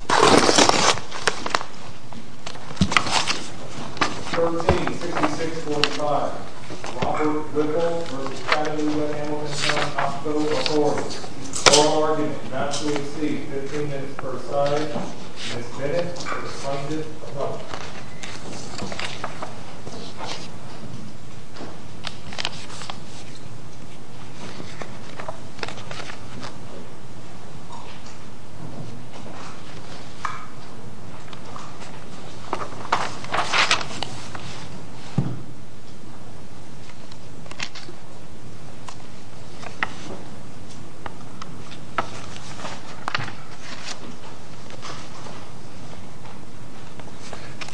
13-6645. Robert Goodall v. Cadillac Ambulance and Hospital Authority. All argument not to be received. 15 minutes per side, and this minute is funded alone.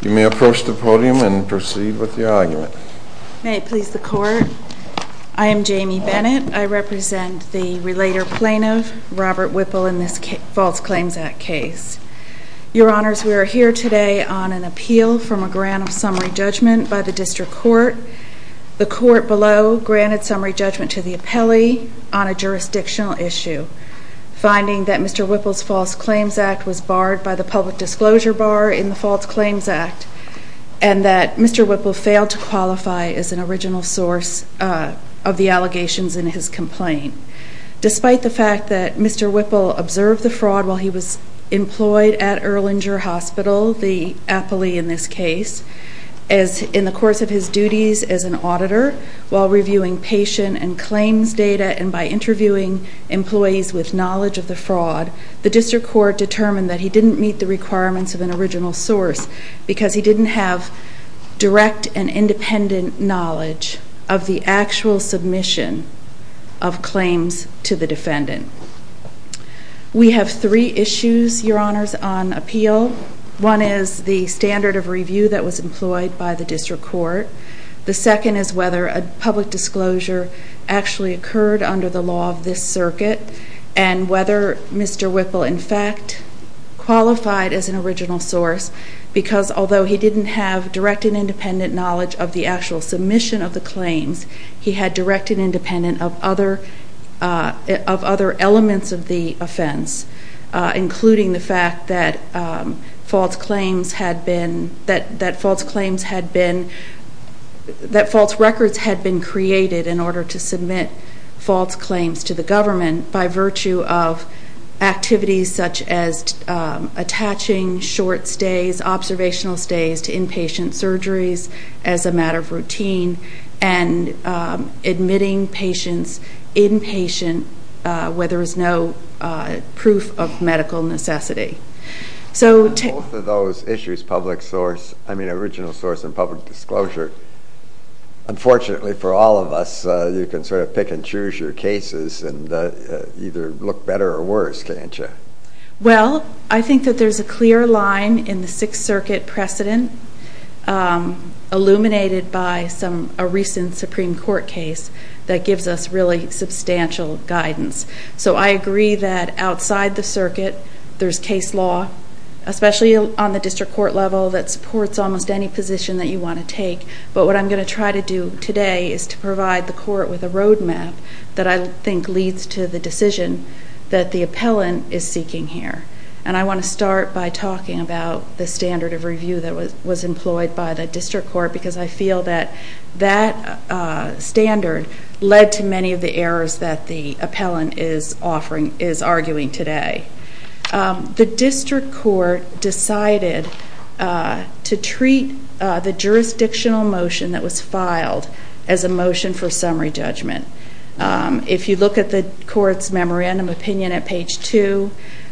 You may approach the podium and proceed with your argument. May it please the Court, I am Jamie Bennett. I represent the relator plaintiff, Robert Whipple, in this false claims act case. Your Honors, we are here today on an appeal from a grant of summary judgment by the district court. The court below granted summary judgment to the appellee on a jurisdictional issue, finding that Mr. Whipple's false claims act was barred by the public disclosure bar in the false claims act, and that Mr. Whipple failed to qualify as an original source of the allegations in his complaint. Despite the fact that Mr. Whipple observed the fraud while he was employed at Erlanger Hospital, the appellee in this case, in the course of his duties as an auditor, while reviewing patient and claims data and by interviewing employees with knowledge of the fraud, the district court determined that he didn't meet the requirements of an original source because he didn't have direct and independent knowledge of the actual submission of claims to the defendant. We have three issues, Your Honors, on appeal. One is the standard of review that was employed by the district court. The second is whether a public disclosure actually occurred under the law of this circuit, and whether Mr. Whipple, in fact, qualified as an original source because, although he didn't have direct and independent knowledge of the actual submission of the claims, he had direct and independent of other elements of the offense, including the fact that false records had been created in order to submit false claims to the government by virtue of activities such as attaching short observational stays to inpatient surgeries as a matter of routine and admitting patients inpatient where there is no proof of medical necessity. So to... Both of those issues, public source, I mean original source and public disclosure, unfortunately for all of us, you can sort of pick and choose your cases and either look better or worse, can't you? Well, I think that there's a clear line in the Sixth Circuit precedent illuminated by a recent Supreme Court case that gives us really substantial guidance. So I agree that outside the circuit, there's case law, especially on the district court level, that supports almost any position that you want to take. But what I'm going to try to do today is to provide the court with a roadmap that I think leads to the decision that the appellant is seeking here. And I want to start by talking about the standard of review that was employed by the district court because I feel that that standard led to many of the errors that the appellant is arguing today. The district court decided to treat the jurisdictional motion that was filed as a motion for summary judgment. If you look at the court's memorandum opinion at page 2,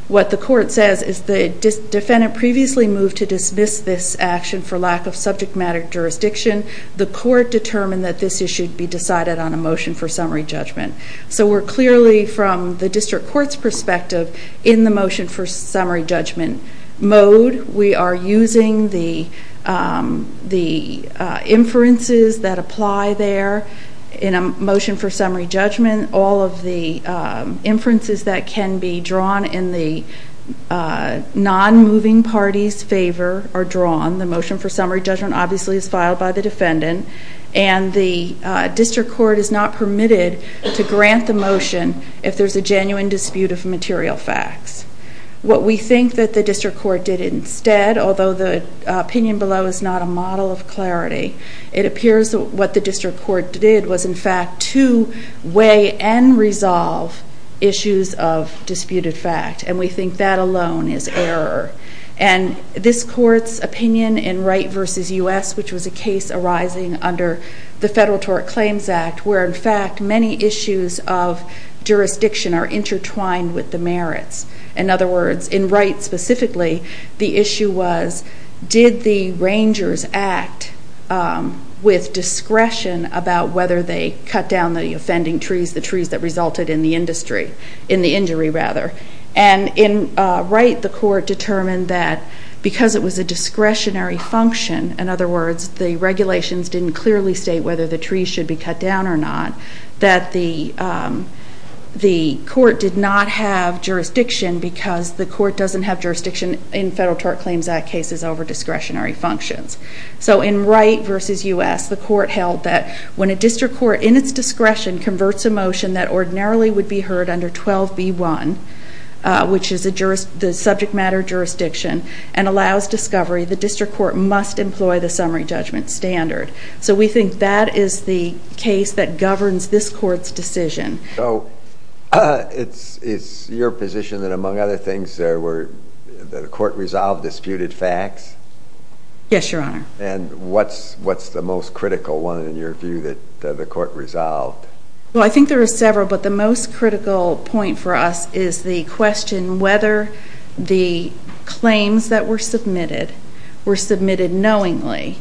what the court says is the defendant previously moved to dismiss this action for lack of subject matter jurisdiction. The court determined that this issue should be decided on a motion for summary judgment. So we're clearly, from the district court's perspective, in the motion for summary judgment mode. We are using the inferences that apply there in a motion for summary judgment. All of the inferences that can be drawn in the non-moving party's favor are drawn. The motion for summary judgment obviously is filed by the defendant. And the district court is not permitted to grant the motion if there's a genuine dispute of material facts. What we think that the district court did instead, although the opinion below is not a model of clarity, it appears that what the district court did was in fact to weigh and resolve issues of disputed fact. And we think that alone is error. And this court's opinion in Wright v. U.S., which was a case arising under the Federal Tort Claims Act, where in fact many issues of jurisdiction are intertwined with the merits. In other words, in Wright specifically, the issue was did the rangers act with discretion about whether they cut down the offending trees, the trees that resulted in the injury. And in Wright, the court determined that because it was a discretionary function, in other words, the regulations didn't clearly state whether the trees should be cut down or not, that the court did not have jurisdiction because the court doesn't have jurisdiction in Federal Tort Claims Act cases over discretionary functions. So in Wright v. U.S., the court held that when a district court in its discretion converts a motion that ordinarily would be heard under 12B1, which is the subject matter jurisdiction, and allows discovery, the district court must employ the summary judgment standard. So we think that is the case that governs this court's decision. So it's your position that among other things the court resolved disputed facts? Yes, Your Honor. And what's the most critical one in your view that the court resolved? Well, I think there are several, but the most critical point for us is the question whether the claims that were submitted were submitted knowingly.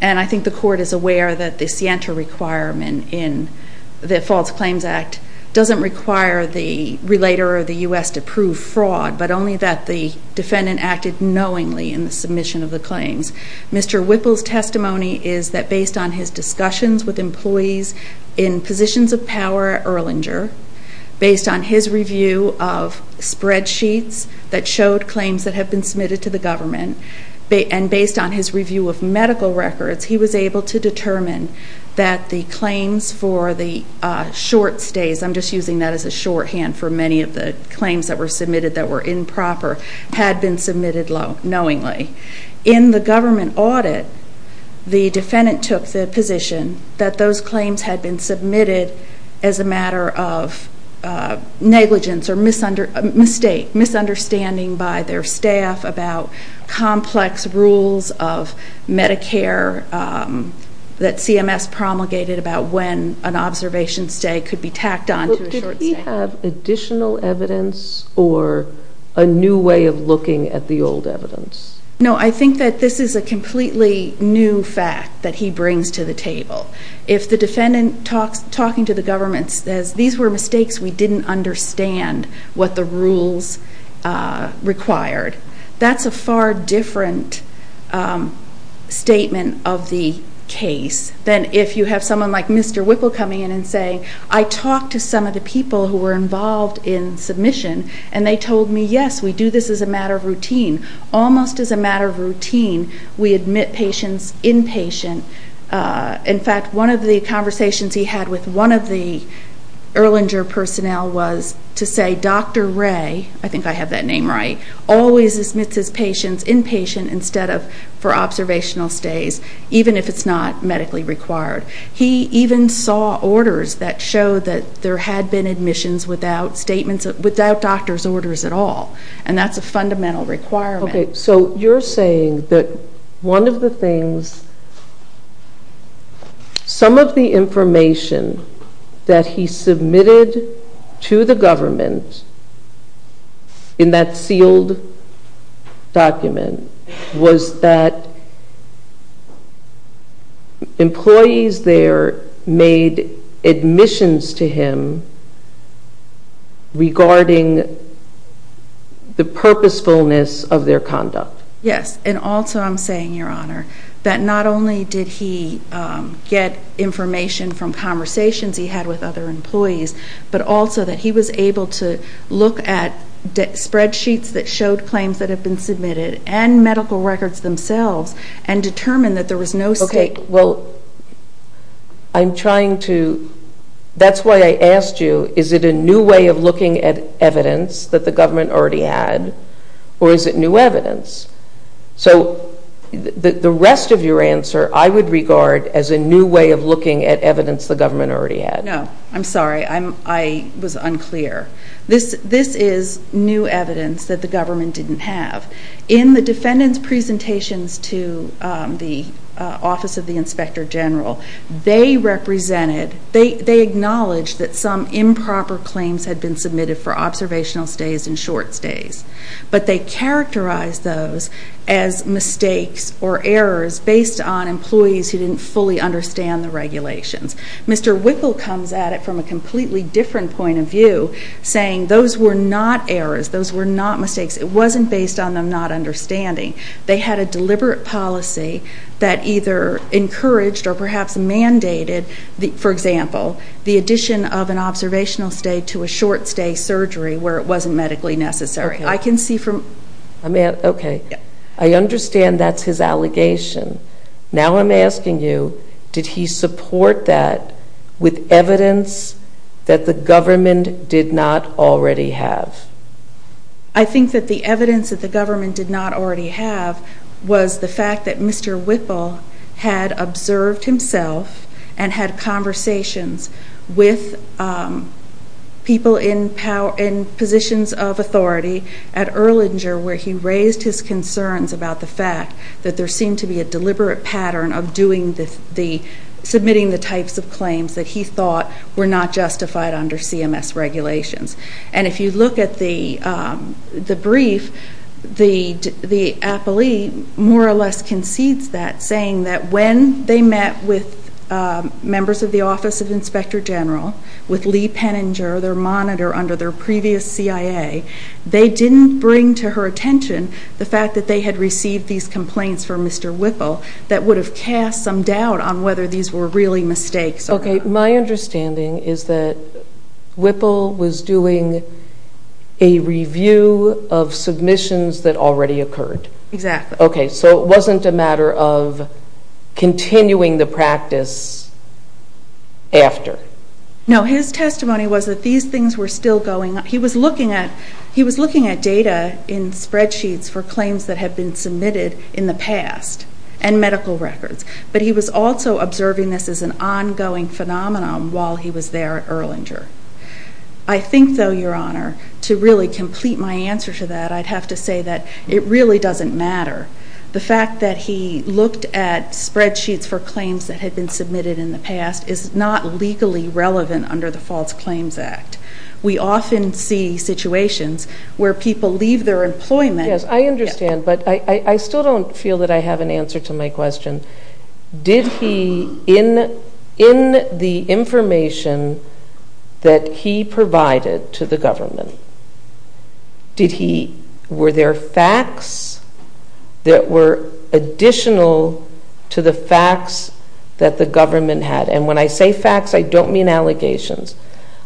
And I think the court is aware that the scienter requirement in the False Claims Act doesn't require the relator of the U.S. to prove fraud, but only that the defendant acted knowingly in the submission of the claims. Mr. Whipple's testimony is that based on his discussions with employees in positions of power at Erlanger, based on his review of spreadsheets that showed claims that have been submitted to the government, and based on his review of medical records, he was able to determine that the claims for the short stays, I'm just using that as a shorthand for many of the claims that were submitted that were improper, had been submitted knowingly. In the government audit, the defendant took the position that those claims had been submitted as a matter of negligence or misunderstanding by their staff about complex rules of Medicare that CMS promulgated about when an observation stay could be tacked on to a short stay. Does he have additional evidence or a new way of looking at the old evidence? No, I think that this is a completely new fact that he brings to the table. If the defendant talking to the government says, these were mistakes, we didn't understand what the rules required, that's a far different statement of the case than if you have someone like Mr. Whipple coming in and saying, I talked to some of the people who were involved in submission, and they told me, yes, we do this as a matter of routine. Almost as a matter of routine, we admit patients inpatient. In fact, one of the conversations he had with one of the Erlanger personnel was to say, Dr. Ray, I think I have that name right, always admits his patients inpatient instead of for observational stays, even if it's not medically required. He even saw orders that showed that there had been admissions without doctor's orders at all, and that's a fundamental requirement. Okay, so you're saying that one of the things, some of the information that he submitted to the government in that sealed document was that employees there made admissions to him regarding the purposefulness of their conduct. Yes, and also I'm saying, Your Honor, that not only did he get information from conversations he had with other employees, but also that he was able to look at spreadsheets that showed claims that had been submitted and medical records themselves and determine that there was no state... Okay, well, I'm trying to... That's why I asked you, is it a new way of looking at evidence that the government already had, or is it new evidence? So the rest of your answer I would regard as a new way of looking at evidence the government already had. No, I'm sorry. I was unclear. This is new evidence that the government didn't have. In the defendant's presentations to the Office of the Inspector General, they acknowledged that some improper claims had been submitted for observational stays and short stays, but they characterized those as mistakes or errors based on employees who didn't fully understand the regulations. Mr. Wickle comes at it from a completely different point of view, saying those were not errors. Those were not mistakes. It wasn't based on them not understanding. They had a deliberate policy that either encouraged or perhaps mandated, for example, the addition of an observational stay to a short stay surgery where it wasn't medically necessary. I can see from... Okay. I understand that's his allegation. Now I'm asking you, did he support that with evidence that the government did not already have? I think that the evidence that the government did not already have was the fact that Mr. Wickle had observed himself and had conversations with people in positions of authority at Erlanger where he raised his concerns about the fact that there seemed to be a deliberate pattern of submitting the types of claims that he thought were not justified under CMS regulations. And if you look at the brief, the appellee more or less concedes that, saying that when they met with members of the Office of the Inspector General, with Lee Penninger, their monitor under their previous CIA, they didn't bring to her attention the fact that they had received these complaints from Mr. Wickle that would have cast some doubt on whether these were really mistakes or not. Okay. My understanding is that Wickle was doing a review of submissions that already occurred. Exactly. Okay, so it wasn't a matter of continuing the practice after. No, his testimony was that these things were still going on. He was looking at data in spreadsheets for claims that had been submitted in the past and medical records, but he was also observing this as an ongoing phenomenon while he was there at Erlanger. I think, though, Your Honor, to really complete my answer to that, I'd have to say that it really doesn't matter. The fact that he looked at spreadsheets for claims that had been submitted in the past is not legally relevant under the False Claims Act. We often see situations where people leave their employment. Yes, I understand, but I still don't feel that I have an answer to my question. Did he, in the information that he provided to the government, were there facts that were additional to the facts that the government had? And when I say facts, I don't mean allegations.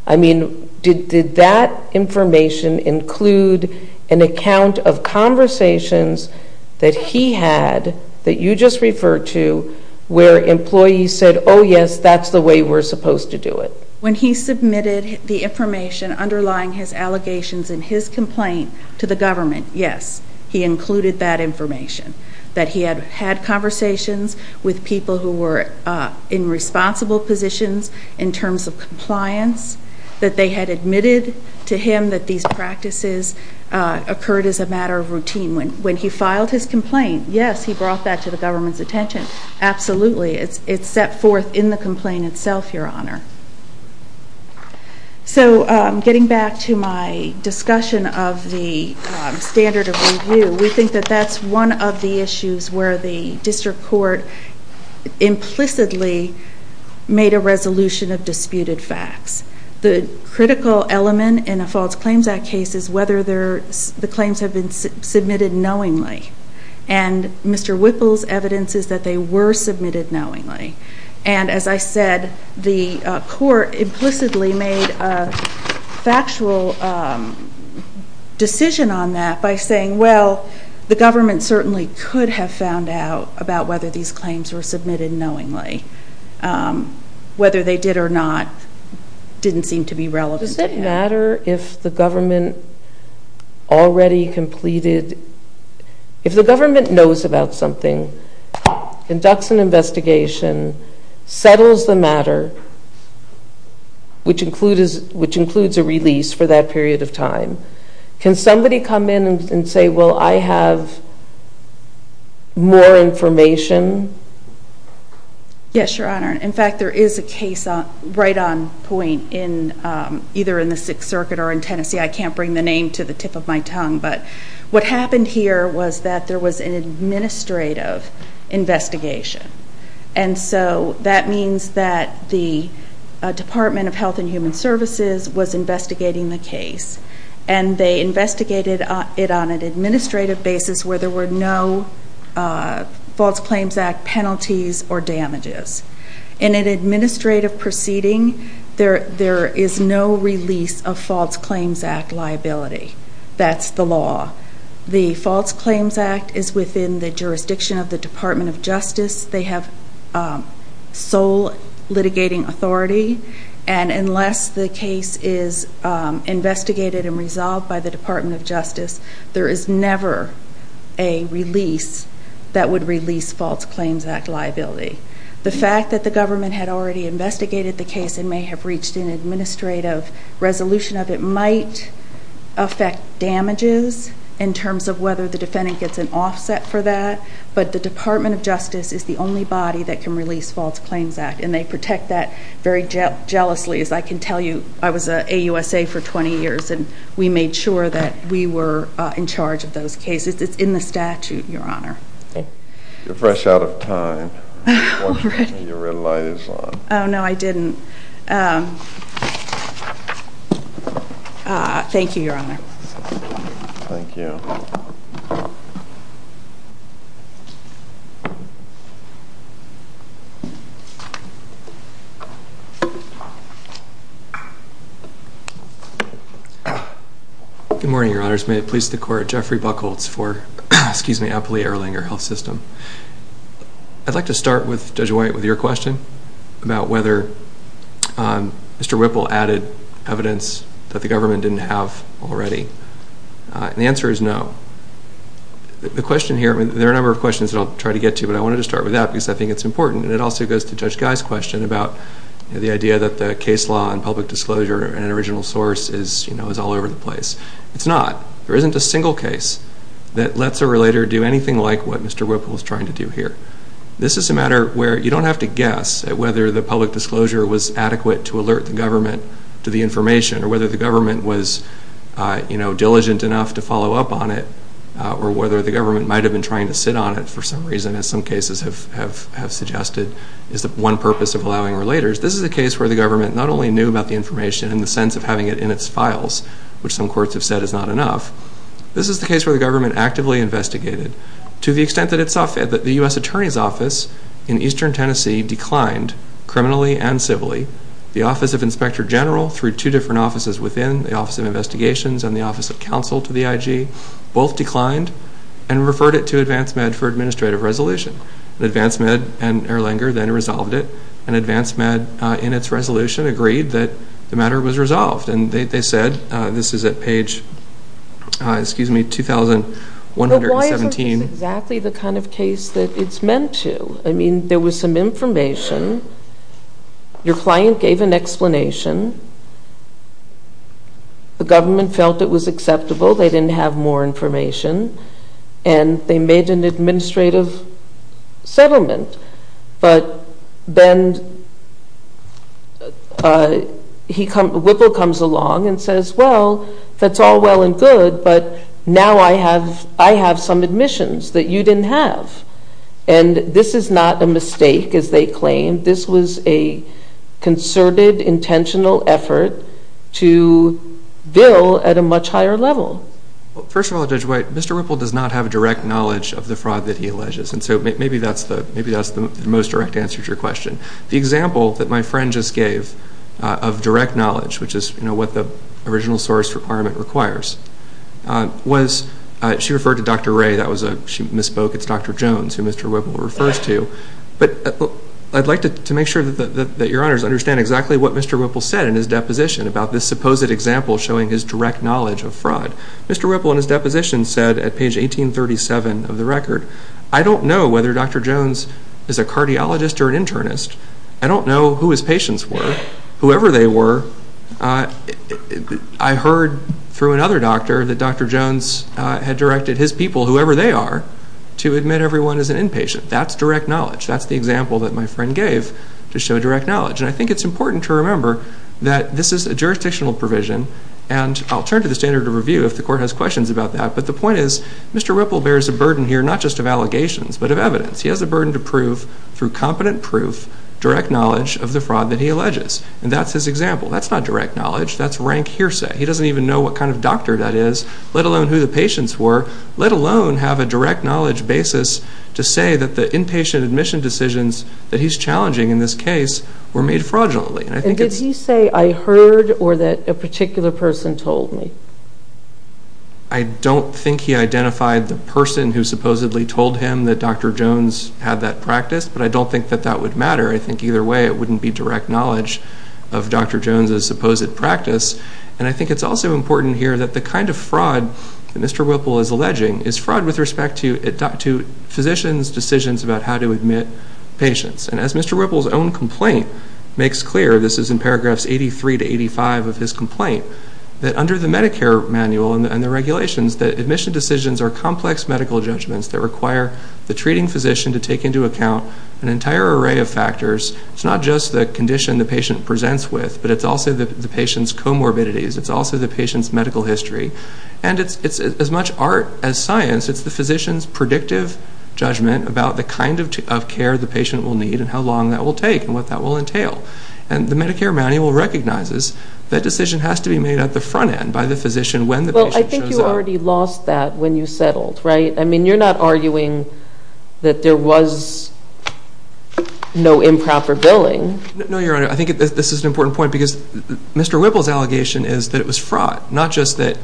I mean, did that information include an account of conversations that he had that you just referred to where employees said, oh, yes, that's the way we're supposed to do it. When he submitted the information underlying his allegations in his complaint to the government, yes, he included that information, that he had had conversations with people who were in responsible positions in terms of compliance, that they had admitted to him that these practices occurred as a matter of routine. When he filed his complaint, yes, he brought that to the government's attention. Absolutely, it's set forth in the complaint itself, Your Honor. So getting back to my discussion of the standard of review, we think that that's one of the issues where the district court implicitly made a resolution of disputed facts. The critical element in a False Claims Act case is whether the claims have been submitted knowingly. And Mr. Whipple's evidence is that they were submitted knowingly. And as I said, the court implicitly made a factual decision on that by saying, well, the government certainly could have found out about whether these claims were submitted knowingly, whether they did or not didn't seem to be relevant. Does it matter if the government already completed, if the government knows about something, conducts an investigation, settles the matter, which includes a release for that period of time, can somebody come in and say, well, I have more information? Yes, Your Honor. In fact, there is a case right on point either in the Sixth Circuit or in Tennessee. I can't bring the name to the tip of my tongue. But what happened here was that there was an administrative investigation. And so that means that the Department of Health and Human Services was investigating the case. And they investigated it on an administrative basis where there were no False Claims Act penalties or damages. In an administrative proceeding, there is no release of False Claims Act liability. That's the law. The False Claims Act is within the jurisdiction of the Department of Justice. They have sole litigating authority. And unless the case is investigated and resolved by the Department of Justice, there is never a release that would release False Claims Act liability. The fact that the government had already investigated the case and may have reached an administrative resolution of it might affect damages in terms of whether the defendant gets an offset for that. But the Department of Justice is the only body that can release False Claims Act. And they protect that very jealously. As I can tell you, I was an AUSA for 20 years. And we made sure that we were in charge of those cases. It's in the statute, Your Honor. You're fresh out of time. Your red light is on. Oh, no, I didn't. Thank you, Your Honor. Thank you. Thank you. Good morning, Your Honors. May it please the Court. Jeffrey Buchholz for Appalachia Erlanger Health System. I'd like to start, Judge White, with your question about whether Mr. Whipple added evidence that the government didn't have already. And the answer is no. The question here, there are a number of questions that I'll try to get to, but I wanted to start with that because I think it's important. And it also goes to Judge Guy's question about the idea that the case law and public disclosure and original source is all over the place. It's not. There isn't a single case that lets a relator do anything like what Mr. Whipple was trying to do here. This is a matter where you don't have to guess at whether the public disclosure was adequate to alert the government to the information or whether the government was diligent enough to follow up on it or whether the government might have been trying to sit on it for some reason, as some cases have suggested is one purpose of allowing relators. This is a case where the government not only knew about the information in the sense of having it in its files, which some courts have said is not enough. This is the case where the government actively investigated. To the extent that the U.S. Attorney's Office in eastern Tennessee declined criminally and civilly, the Office of Inspector General, through two different offices within, the Office of Investigations and the Office of Counsel to the IG, both declined and referred it to AdvanceMed for administrative resolution. AdvanceMed and Erlanger then resolved it, and AdvanceMed, in its resolution, agreed that the matter was resolved. And they said, this is at page 2,117. But why isn't this exactly the kind of case that it's meant to? I mean, there was some information. Your client gave an explanation. The government felt it was acceptable. They didn't have more information. And they made an administrative settlement. But then Whipple comes along and says, well, that's all well and good, but now I have some admissions that you didn't have. And this is not a mistake, as they claimed. This was a concerted, intentional effort to bill at a much higher level. First of all, Judge White, Mr. Whipple does not have direct knowledge of the fraud that he alleges. And so maybe that's the most direct answer to your question. The example that my friend just gave of direct knowledge, which is what the original source requirement requires, was she referred to Dr. Ray. She misspoke. It's Dr. Jones who Mr. Whipple refers to. But I'd like to make sure that your honors understand exactly what Mr. Whipple said in his deposition about this supposed example showing his direct knowledge of fraud. Mr. Whipple in his deposition said at page 1837 of the record, I don't know whether Dr. Jones is a cardiologist or an internist. I don't know who his patients were, whoever they were. I heard through another doctor that Dr. Jones had directed his people, whoever they are, to admit everyone as an inpatient. That's direct knowledge. That's the example that my friend gave to show direct knowledge. And I think it's important to remember that this is a jurisdictional provision, and I'll turn to the standard of review if the court has questions about that. But the point is Mr. Whipple bears a burden here not just of allegations but of evidence. He has a burden to prove through competent proof direct knowledge of the fraud that he alleges. And that's his example. That's not direct knowledge. That's rank hearsay. He doesn't even know what kind of doctor that is, let alone who the patients were, let alone have a direct knowledge basis to say that the inpatient admission decisions that he's challenging in this case were made fraudulently. And did he say I heard or that a particular person told me? I don't think he identified the person who supposedly told him that Dr. Jones had that practice, but I don't think that that would matter. I think either way it wouldn't be direct knowledge of Dr. Jones' supposed practice. And I think it's also important here that the kind of fraud that Mr. Whipple is alleging is fraud with respect to physicians' decisions about how to admit patients. And as Mr. Whipple's own complaint makes clear, this is in paragraphs 83 to 85 of his complaint, that under the Medicare manual and the regulations that admission decisions are complex medical judgments that require the treating physician to take into account an entire array of factors. It's not just the condition the patient presents with, but it's also the patient's comorbidities. It's also the patient's medical history. And it's as much art as science. It's the physician's predictive judgment about the kind of care the patient will need and how long that will take and what that will entail. And the Medicare manual recognizes that decision has to be made at the front end by the physician when the patient shows up. Well, I think you already lost that when you settled, right? I mean, you're not arguing that there was no improper billing. No, Your Honor. I think this is an important point because Mr. Whipple's allegation is that it was fraud, not just that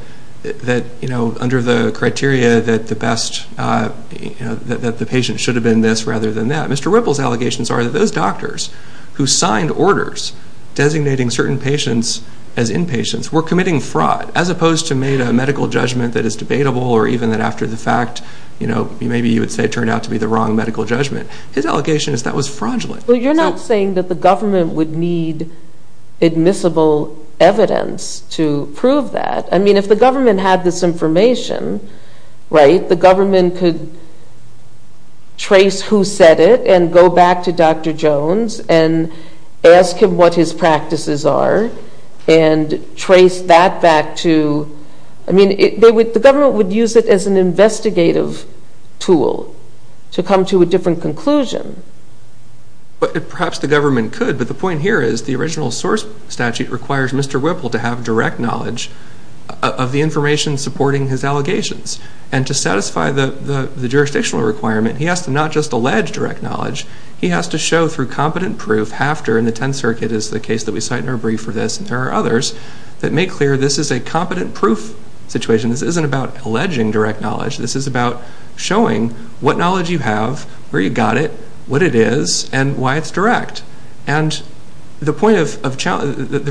under the criteria that the patient should have been this rather than that. Mr. Whipple's allegations are that those doctors who signed orders designating certain patients as inpatients were committing fraud as opposed to made a medical judgment that is debatable or even that after the fact, you know, maybe you would say turned out to be the wrong medical judgment. His allegation is that was fraudulent. Well, you're not saying that the government would need admissible evidence to prove that. I mean, if the government had this information, right, the government could trace who said it and go back to Dr. Jones and ask him what his practices are and trace that back to, I mean, the government would use it as an investigative tool to come to a different conclusion. Perhaps the government could, but the point here is the original source statute requires Mr. Whipple to have direct knowledge of the information supporting his allegations, and to satisfy the jurisdictional requirement, he has to not just allege direct knowledge, he has to show through competent proof after, and the Tenth Circuit is the case that we cite in our brief for this, and there are others that make clear this is a competent proof situation. This isn't about alleging direct knowledge. This is about showing what knowledge you have, where you got it, what it is, and why it's direct. And the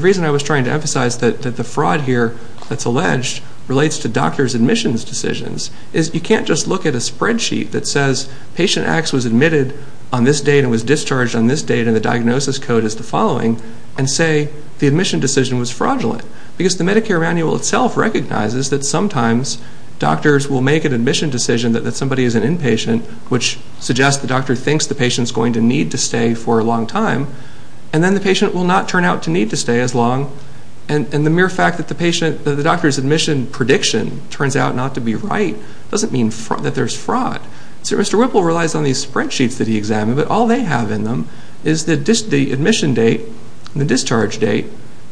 reason I was trying to emphasize that the fraud here that's alleged relates to doctors' admissions decisions is you can't just look at a spreadsheet that says patient X was admitted on this date and was discharged on this date, and the diagnosis code is the following, and say the admission decision was fraudulent, because the Medicare manual itself recognizes that sometimes doctors will make an admission decision that somebody is an inpatient, which suggests the doctor thinks the patient's going to need to stay for a long time, and then the patient will not turn out to need to stay as long, and the mere fact that the doctor's admission prediction turns out not to be right doesn't mean that there's fraud. So Mr. Whipple relies on these spreadsheets that he examined, but all they have in them is the admission date and the discharge date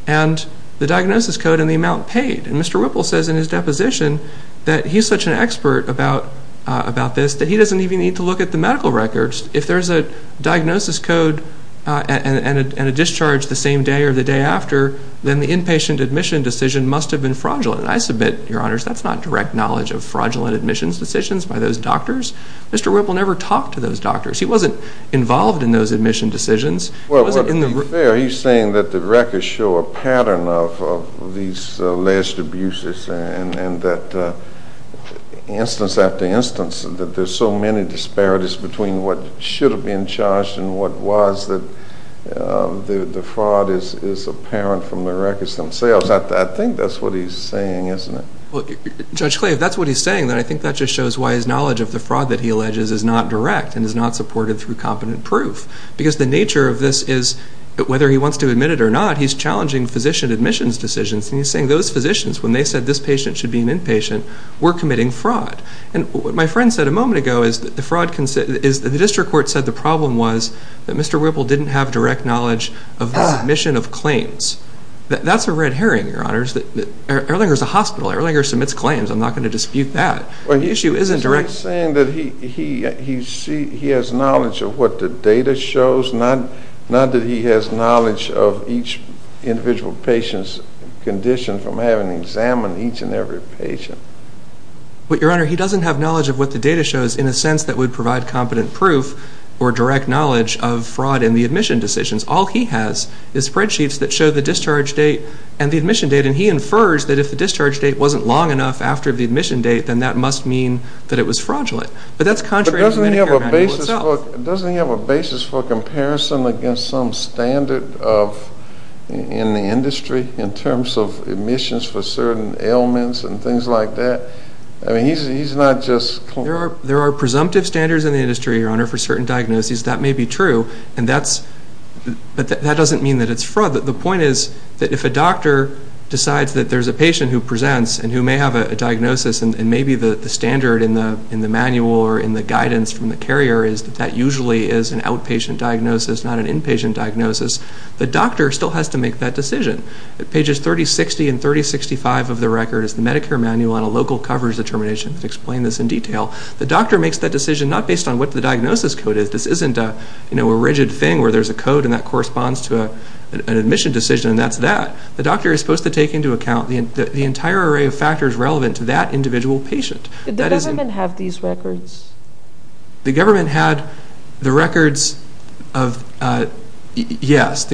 and the diagnosis code and the amount paid. And Mr. Whipple says in his deposition that he's such an expert about this that he doesn't even need to look at the medical records. If there's a diagnosis code and a discharge the same day or the day after, then the inpatient admission decision must have been fraudulent. I submit, Your Honors, that's not direct knowledge of fraudulent admissions decisions by those doctors. Mr. Whipple never talked to those doctors. He wasn't involved in those admission decisions. Well, to be fair, he's saying that the records show a pattern of these alleged abuses and that instance after instance that there's so many disparities between what should have been charged and what was that the fraud is apparent from the records themselves. I think that's what he's saying, isn't it? Judge Clay, if that's what he's saying, then I think that just shows why his knowledge of the fraud that he alleges is not direct and is not supported through competent proof. Because the nature of this is that whether he wants to admit it or not, he's challenging physician admissions decisions. And he's saying those physicians, when they said this patient should be an inpatient, were committing fraud. And what my friend said a moment ago is that the district court said the problem was That's a red herring, Your Honors. Erlinger's a hospital. Erlinger submits claims. I'm not going to dispute that. The issue isn't direct. He's saying that he has knowledge of what the data shows, not that he has knowledge of each individual patient's condition from having examined each and every patient. But, Your Honor, he doesn't have knowledge of what the data shows in a sense that would provide competent proof or direct knowledge of fraud in the admission decisions. All he has is spreadsheets that show the discharge date and the admission date, and he infers that if the discharge date wasn't long enough after the admission date, then that must mean that it was fraudulent. But that's contrary to Medicare manual itself. But doesn't he have a basis for comparison against some standard in the industry in terms of admissions for certain ailments and things like that? I mean, he's not just – There are presumptive standards in the industry, Your Honor, for certain diagnoses. That may be true, but that doesn't mean that it's fraud. The point is that if a doctor decides that there's a patient who presents and who may have a diagnosis and maybe the standard in the manual or in the guidance from the carrier is that that usually is an outpatient diagnosis, not an inpatient diagnosis, the doctor still has to make that decision. Pages 3060 and 3065 of the record is the Medicare manual on a local coverage determination. I can explain this in detail. The doctor makes that decision not based on what the diagnosis code is. This isn't a rigid thing where there's a code and that corresponds to an admission decision, and that's that. The doctor is supposed to take into account the entire array of factors relevant to that individual patient. Did the government have these records? The government had the records of – yes. First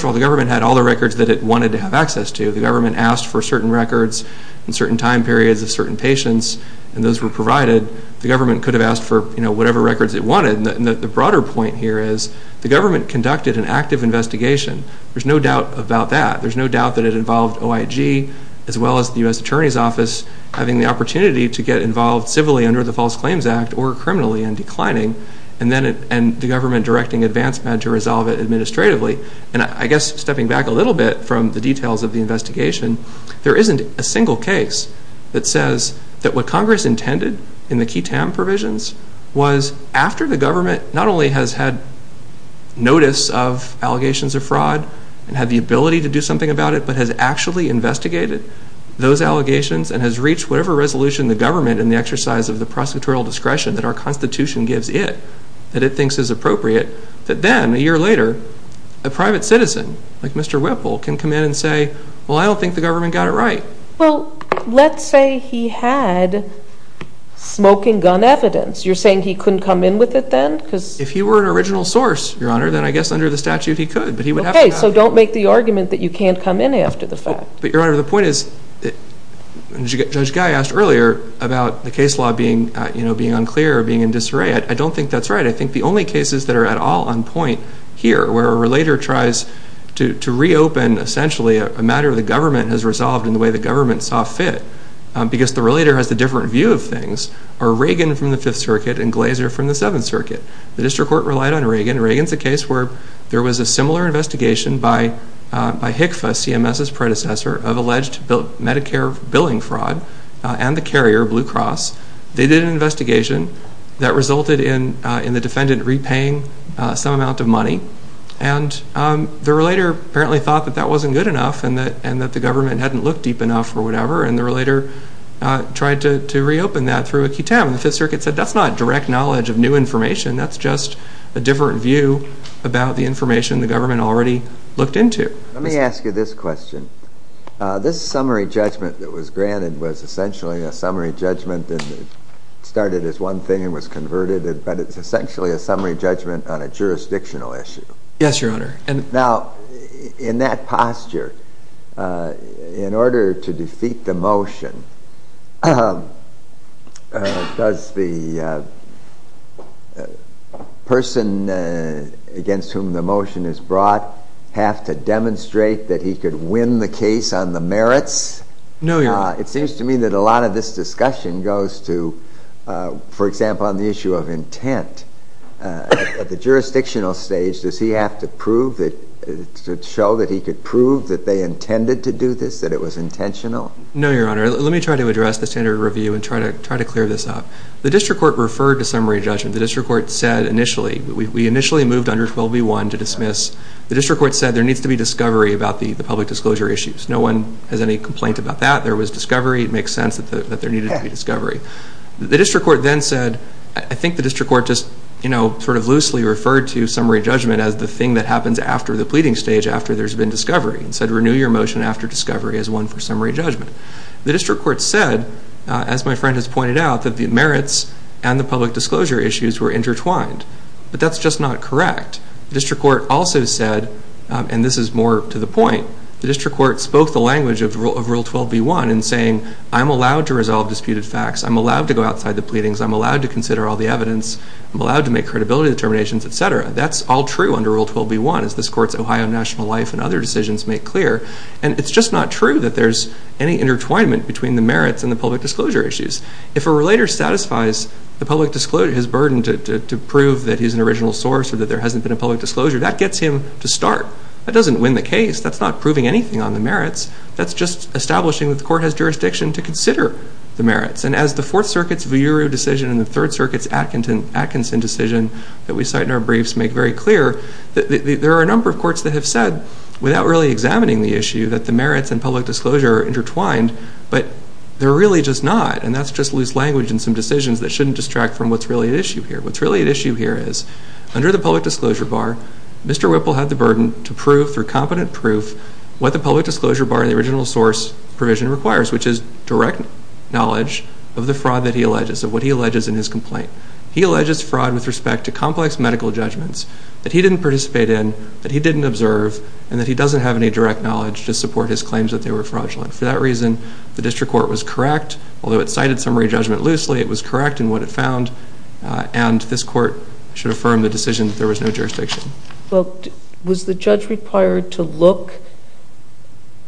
of all, the government had all the records that it wanted to have access to. The government asked for certain records in certain time periods of certain patients, and those were provided. The government could have asked for whatever records it wanted. The broader point here is the government conducted an active investigation. There's no doubt about that. There's no doubt that it involved OIG as well as the U.S. Attorney's Office having the opportunity to get involved civilly under the False Claims Act or criminally in declining, and the government directing AdvanceMed to resolve it administratively. I guess stepping back a little bit from the details of the investigation, there isn't a single case that says that what Congress intended in the QTAM provisions was after the government not only has had notice of allegations of fraud and had the ability to do something about it but has actually investigated those allegations and has reached whatever resolution the government in the exercise of the prosecutorial discretion that our Constitution gives it that it thinks is appropriate, that then a year later a private citizen like Mr. Whipple can come in and say, well, I don't think the government got it right. Well, let's say he had smoking gun evidence. You're saying he couldn't come in with it then? If he were an original source, Your Honor, then I guess under the statute he could. Okay, so don't make the argument that you can't come in after the fact. But, Your Honor, the point is, Judge Guy asked earlier about the case law being unclear or being in disarray. I don't think that's right. I think the only cases that are at all on point here where a relator tries to reopen, essentially, a matter the government has resolved in the way the government saw fit because the relator has a different view of things, are Reagan from the Fifth Circuit and Glazer from the Seventh Circuit. The district court relied on Reagan. Reagan's a case where there was a similar investigation by HICFA, CMS's predecessor, of alleged Medicare billing fraud and the carrier, Blue Cross. They did an investigation that resulted in the defendant repaying some amount of money. The relator apparently thought that that wasn't good enough and that the government hadn't looked deep enough or whatever, and the relator tried to reopen that through a QTAM. The Fifth Circuit said that's not direct knowledge of new information, that's just a different view about the information the government already looked into. Let me ask you this question. This summary judgment that was granted was essentially a summary judgment and it started as one thing and was converted, but it's essentially a summary judgment on a jurisdictional issue. Yes, Your Honor. Now, in that posture, in order to defeat the motion, does the person against whom the motion is brought have to demonstrate that he could win the case on the merits? No, Your Honor. It seems to me that a lot of this discussion goes to, for example, on the issue of intent. At the jurisdictional stage, does he have to show that he could prove that they intended to do this, that it was intentional? No, Your Honor. Let me try to address the standard review and try to clear this up. The district court referred to summary judgment. The district court said initially, we initially moved under 12b.1 to dismiss. The district court said there needs to be discovery about the public disclosure issues. There was discovery. It makes sense that there needed to be discovery. The district court then said, I think the district court just sort of loosely referred to summary judgment as the thing that happens after the pleading stage, after there's been discovery, and said renew your motion after discovery as one for summary judgment. The district court said, as my friend has pointed out, that the merits and the public disclosure issues were intertwined, but that's just not correct. The district court also said, and this is more to the point, the district court spoke the language of rule 12b.1 in saying, I'm allowed to resolve disputed facts. I'm allowed to go outside the pleadings. I'm allowed to consider all the evidence. I'm allowed to make credibility determinations, et cetera. That's all true under rule 12b.1, as this court's Ohio National Life and other decisions make clear, and it's just not true that there's any intertwinement between the merits and the public disclosure issues. If a relator satisfies his burden to prove that he's an original source or that there hasn't been a public disclosure, that gets him to start. That doesn't win the case. That's not proving anything on the merits. That's just establishing that the court has jurisdiction to consider the merits. And as the Fourth Circuit's Vuuru decision and the Third Circuit's Atkinson decision that we cite in our briefs make very clear, there are a number of courts that have said, without really examining the issue, that the merits and public disclosure are intertwined, but they're really just not, and that's just loose language in some decisions that shouldn't distract from what's really at issue here. What's really at issue here is, under the public disclosure bar, Mr. Whipple had the burden to prove through competent proof what the public disclosure bar in the original source provision requires, which is direct knowledge of the fraud that he alleges, of what he alleges in his complaint. He alleges fraud with respect to complex medical judgments that he didn't participate in, that he didn't observe, and that he doesn't have any direct knowledge to support his claims that they were fraudulent. For that reason, the district court was correct. Although it cited summary judgment loosely, it was correct in what it found, and this court should affirm the decision that there was no jurisdiction. Well, was the judge required to look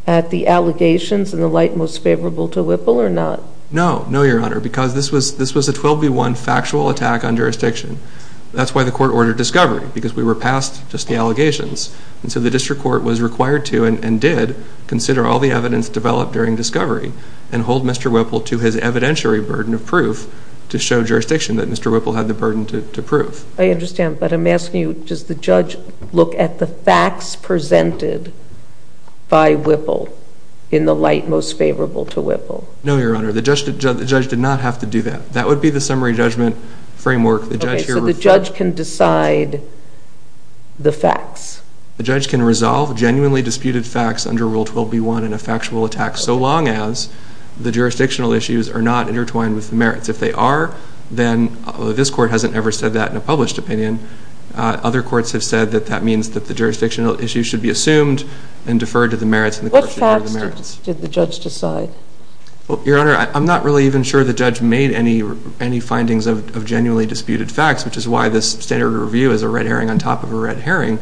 at the allegations in the light most favorable to Whipple, or not? No. No, Your Honor, because this was a 12-v-1 factual attack on jurisdiction. That's why the court ordered discovery, because we were past just the allegations. And so the district court was required to, and did, consider all the evidence developed during discovery, and hold Mr. Whipple to his evidentiary burden of proof to show jurisdiction that Mr. Whipple had the burden to prove. I understand, but I'm asking you, does the judge look at the facts presented by Whipple in the light most favorable to Whipple? No, Your Honor, the judge did not have to do that. That would be the summary judgment framework. Okay, so the judge can decide the facts. The judge can resolve genuinely disputed facts under Rule 12-v-1 in a factual attack so long as the jurisdictional issues are not intertwined with the merits. If they are, then this court hasn't ever said that in a published opinion. Other courts have said that that means that the jurisdictional issues should be assumed and deferred to the merits. What facts did the judge decide? Your Honor, I'm not really even sure the judge made any findings of genuinely disputed facts, which is why this standard review is a red herring on top of a red herring.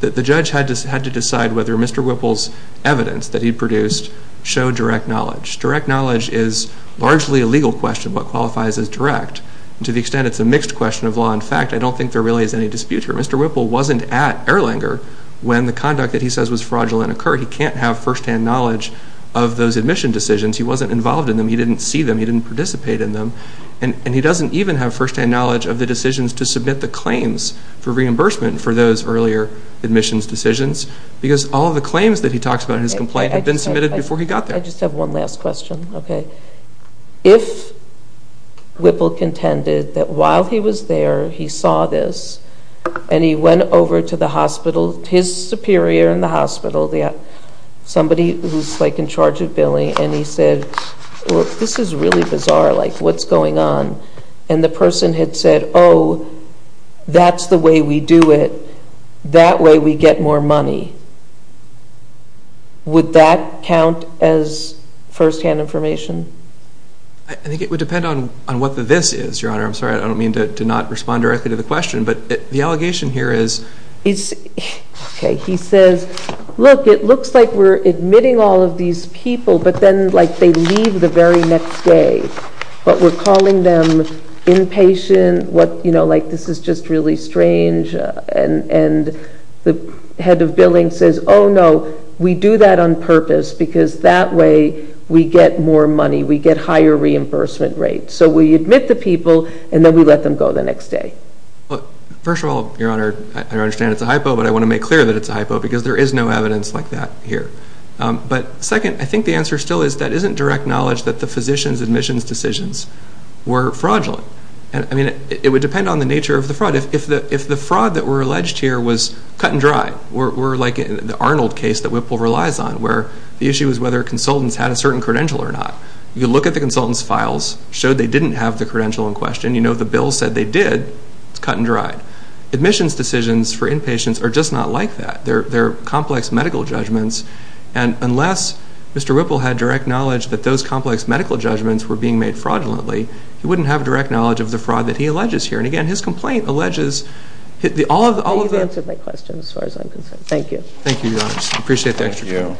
The judge had to decide whether Mr. Whipple's evidence that he produced showed direct knowledge. Direct knowledge is largely a legal question. What qualifies as direct? To the extent it's a mixed question of law and fact, I don't think there really is any dispute here. Mr. Whipple wasn't at Erlanger when the conduct that he says was fraudulent occurred. He can't have firsthand knowledge of those admission decisions. He wasn't involved in them. He didn't see them. He didn't participate in them. And he doesn't even have firsthand knowledge of the decisions to submit the claims for reimbursement for those earlier admissions decisions because all of the claims that he talks about in his complaint have been submitted before he got there. I just have one last question. Okay. If Whipple contended that while he was there, he saw this, and he went over to the hospital, his superior in the hospital, somebody who's in charge of billing, and he said, well, this is really bizarre. Like, what's going on? And the person had said, oh, that's the way we do it. That way we get more money. Would that count as firsthand information? I think it would depend on what the this is, Your Honor. I'm sorry. I don't mean to not respond directly to the question, but the allegation here is. Okay. He says, look, it looks like we're admitting all of these people, but then, like, they leave the very next day. But we're calling them impatient. You know, like, this is just really strange. And the head of billing says, oh, no, we do that on purpose, because that way we get more money. We get higher reimbursement rates. So we admit the people, and then we let them go the next day. First of all, Your Honor, I understand it's a hypo, but I want to make clear that it's a hypo, because there is no evidence like that here. But second, I think the answer still is that isn't direct knowledge that the physician's admissions decisions were fraudulent. I mean, it would depend on the nature of the fraud. If the fraud that were alleged here was cut and dry, we're like in the Arnold case that Whipple relies on, where the issue is whether consultants had a certain credential or not. You look at the consultant's files, show they didn't have the credential in question. You know the bill said they did. It's cut and dried. Admissions decisions for inpatients are just not like that. They're complex medical judgments. And unless Mr. Whipple had direct knowledge that those complex medical judgments were being made fraudulently, he wouldn't have direct knowledge of the fraud that he alleges here. And, again, his complaint alleges that all of the- You've answered my question as far as I'm concerned. Thank you. Thank you, Your Honor. I appreciate that. Thank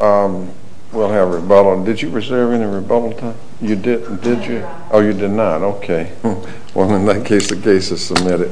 you. We'll have rebuttal. Did you reserve any rebuttal time? I did not. Oh, you did not. Okay. Well, in that case, the case is submitted.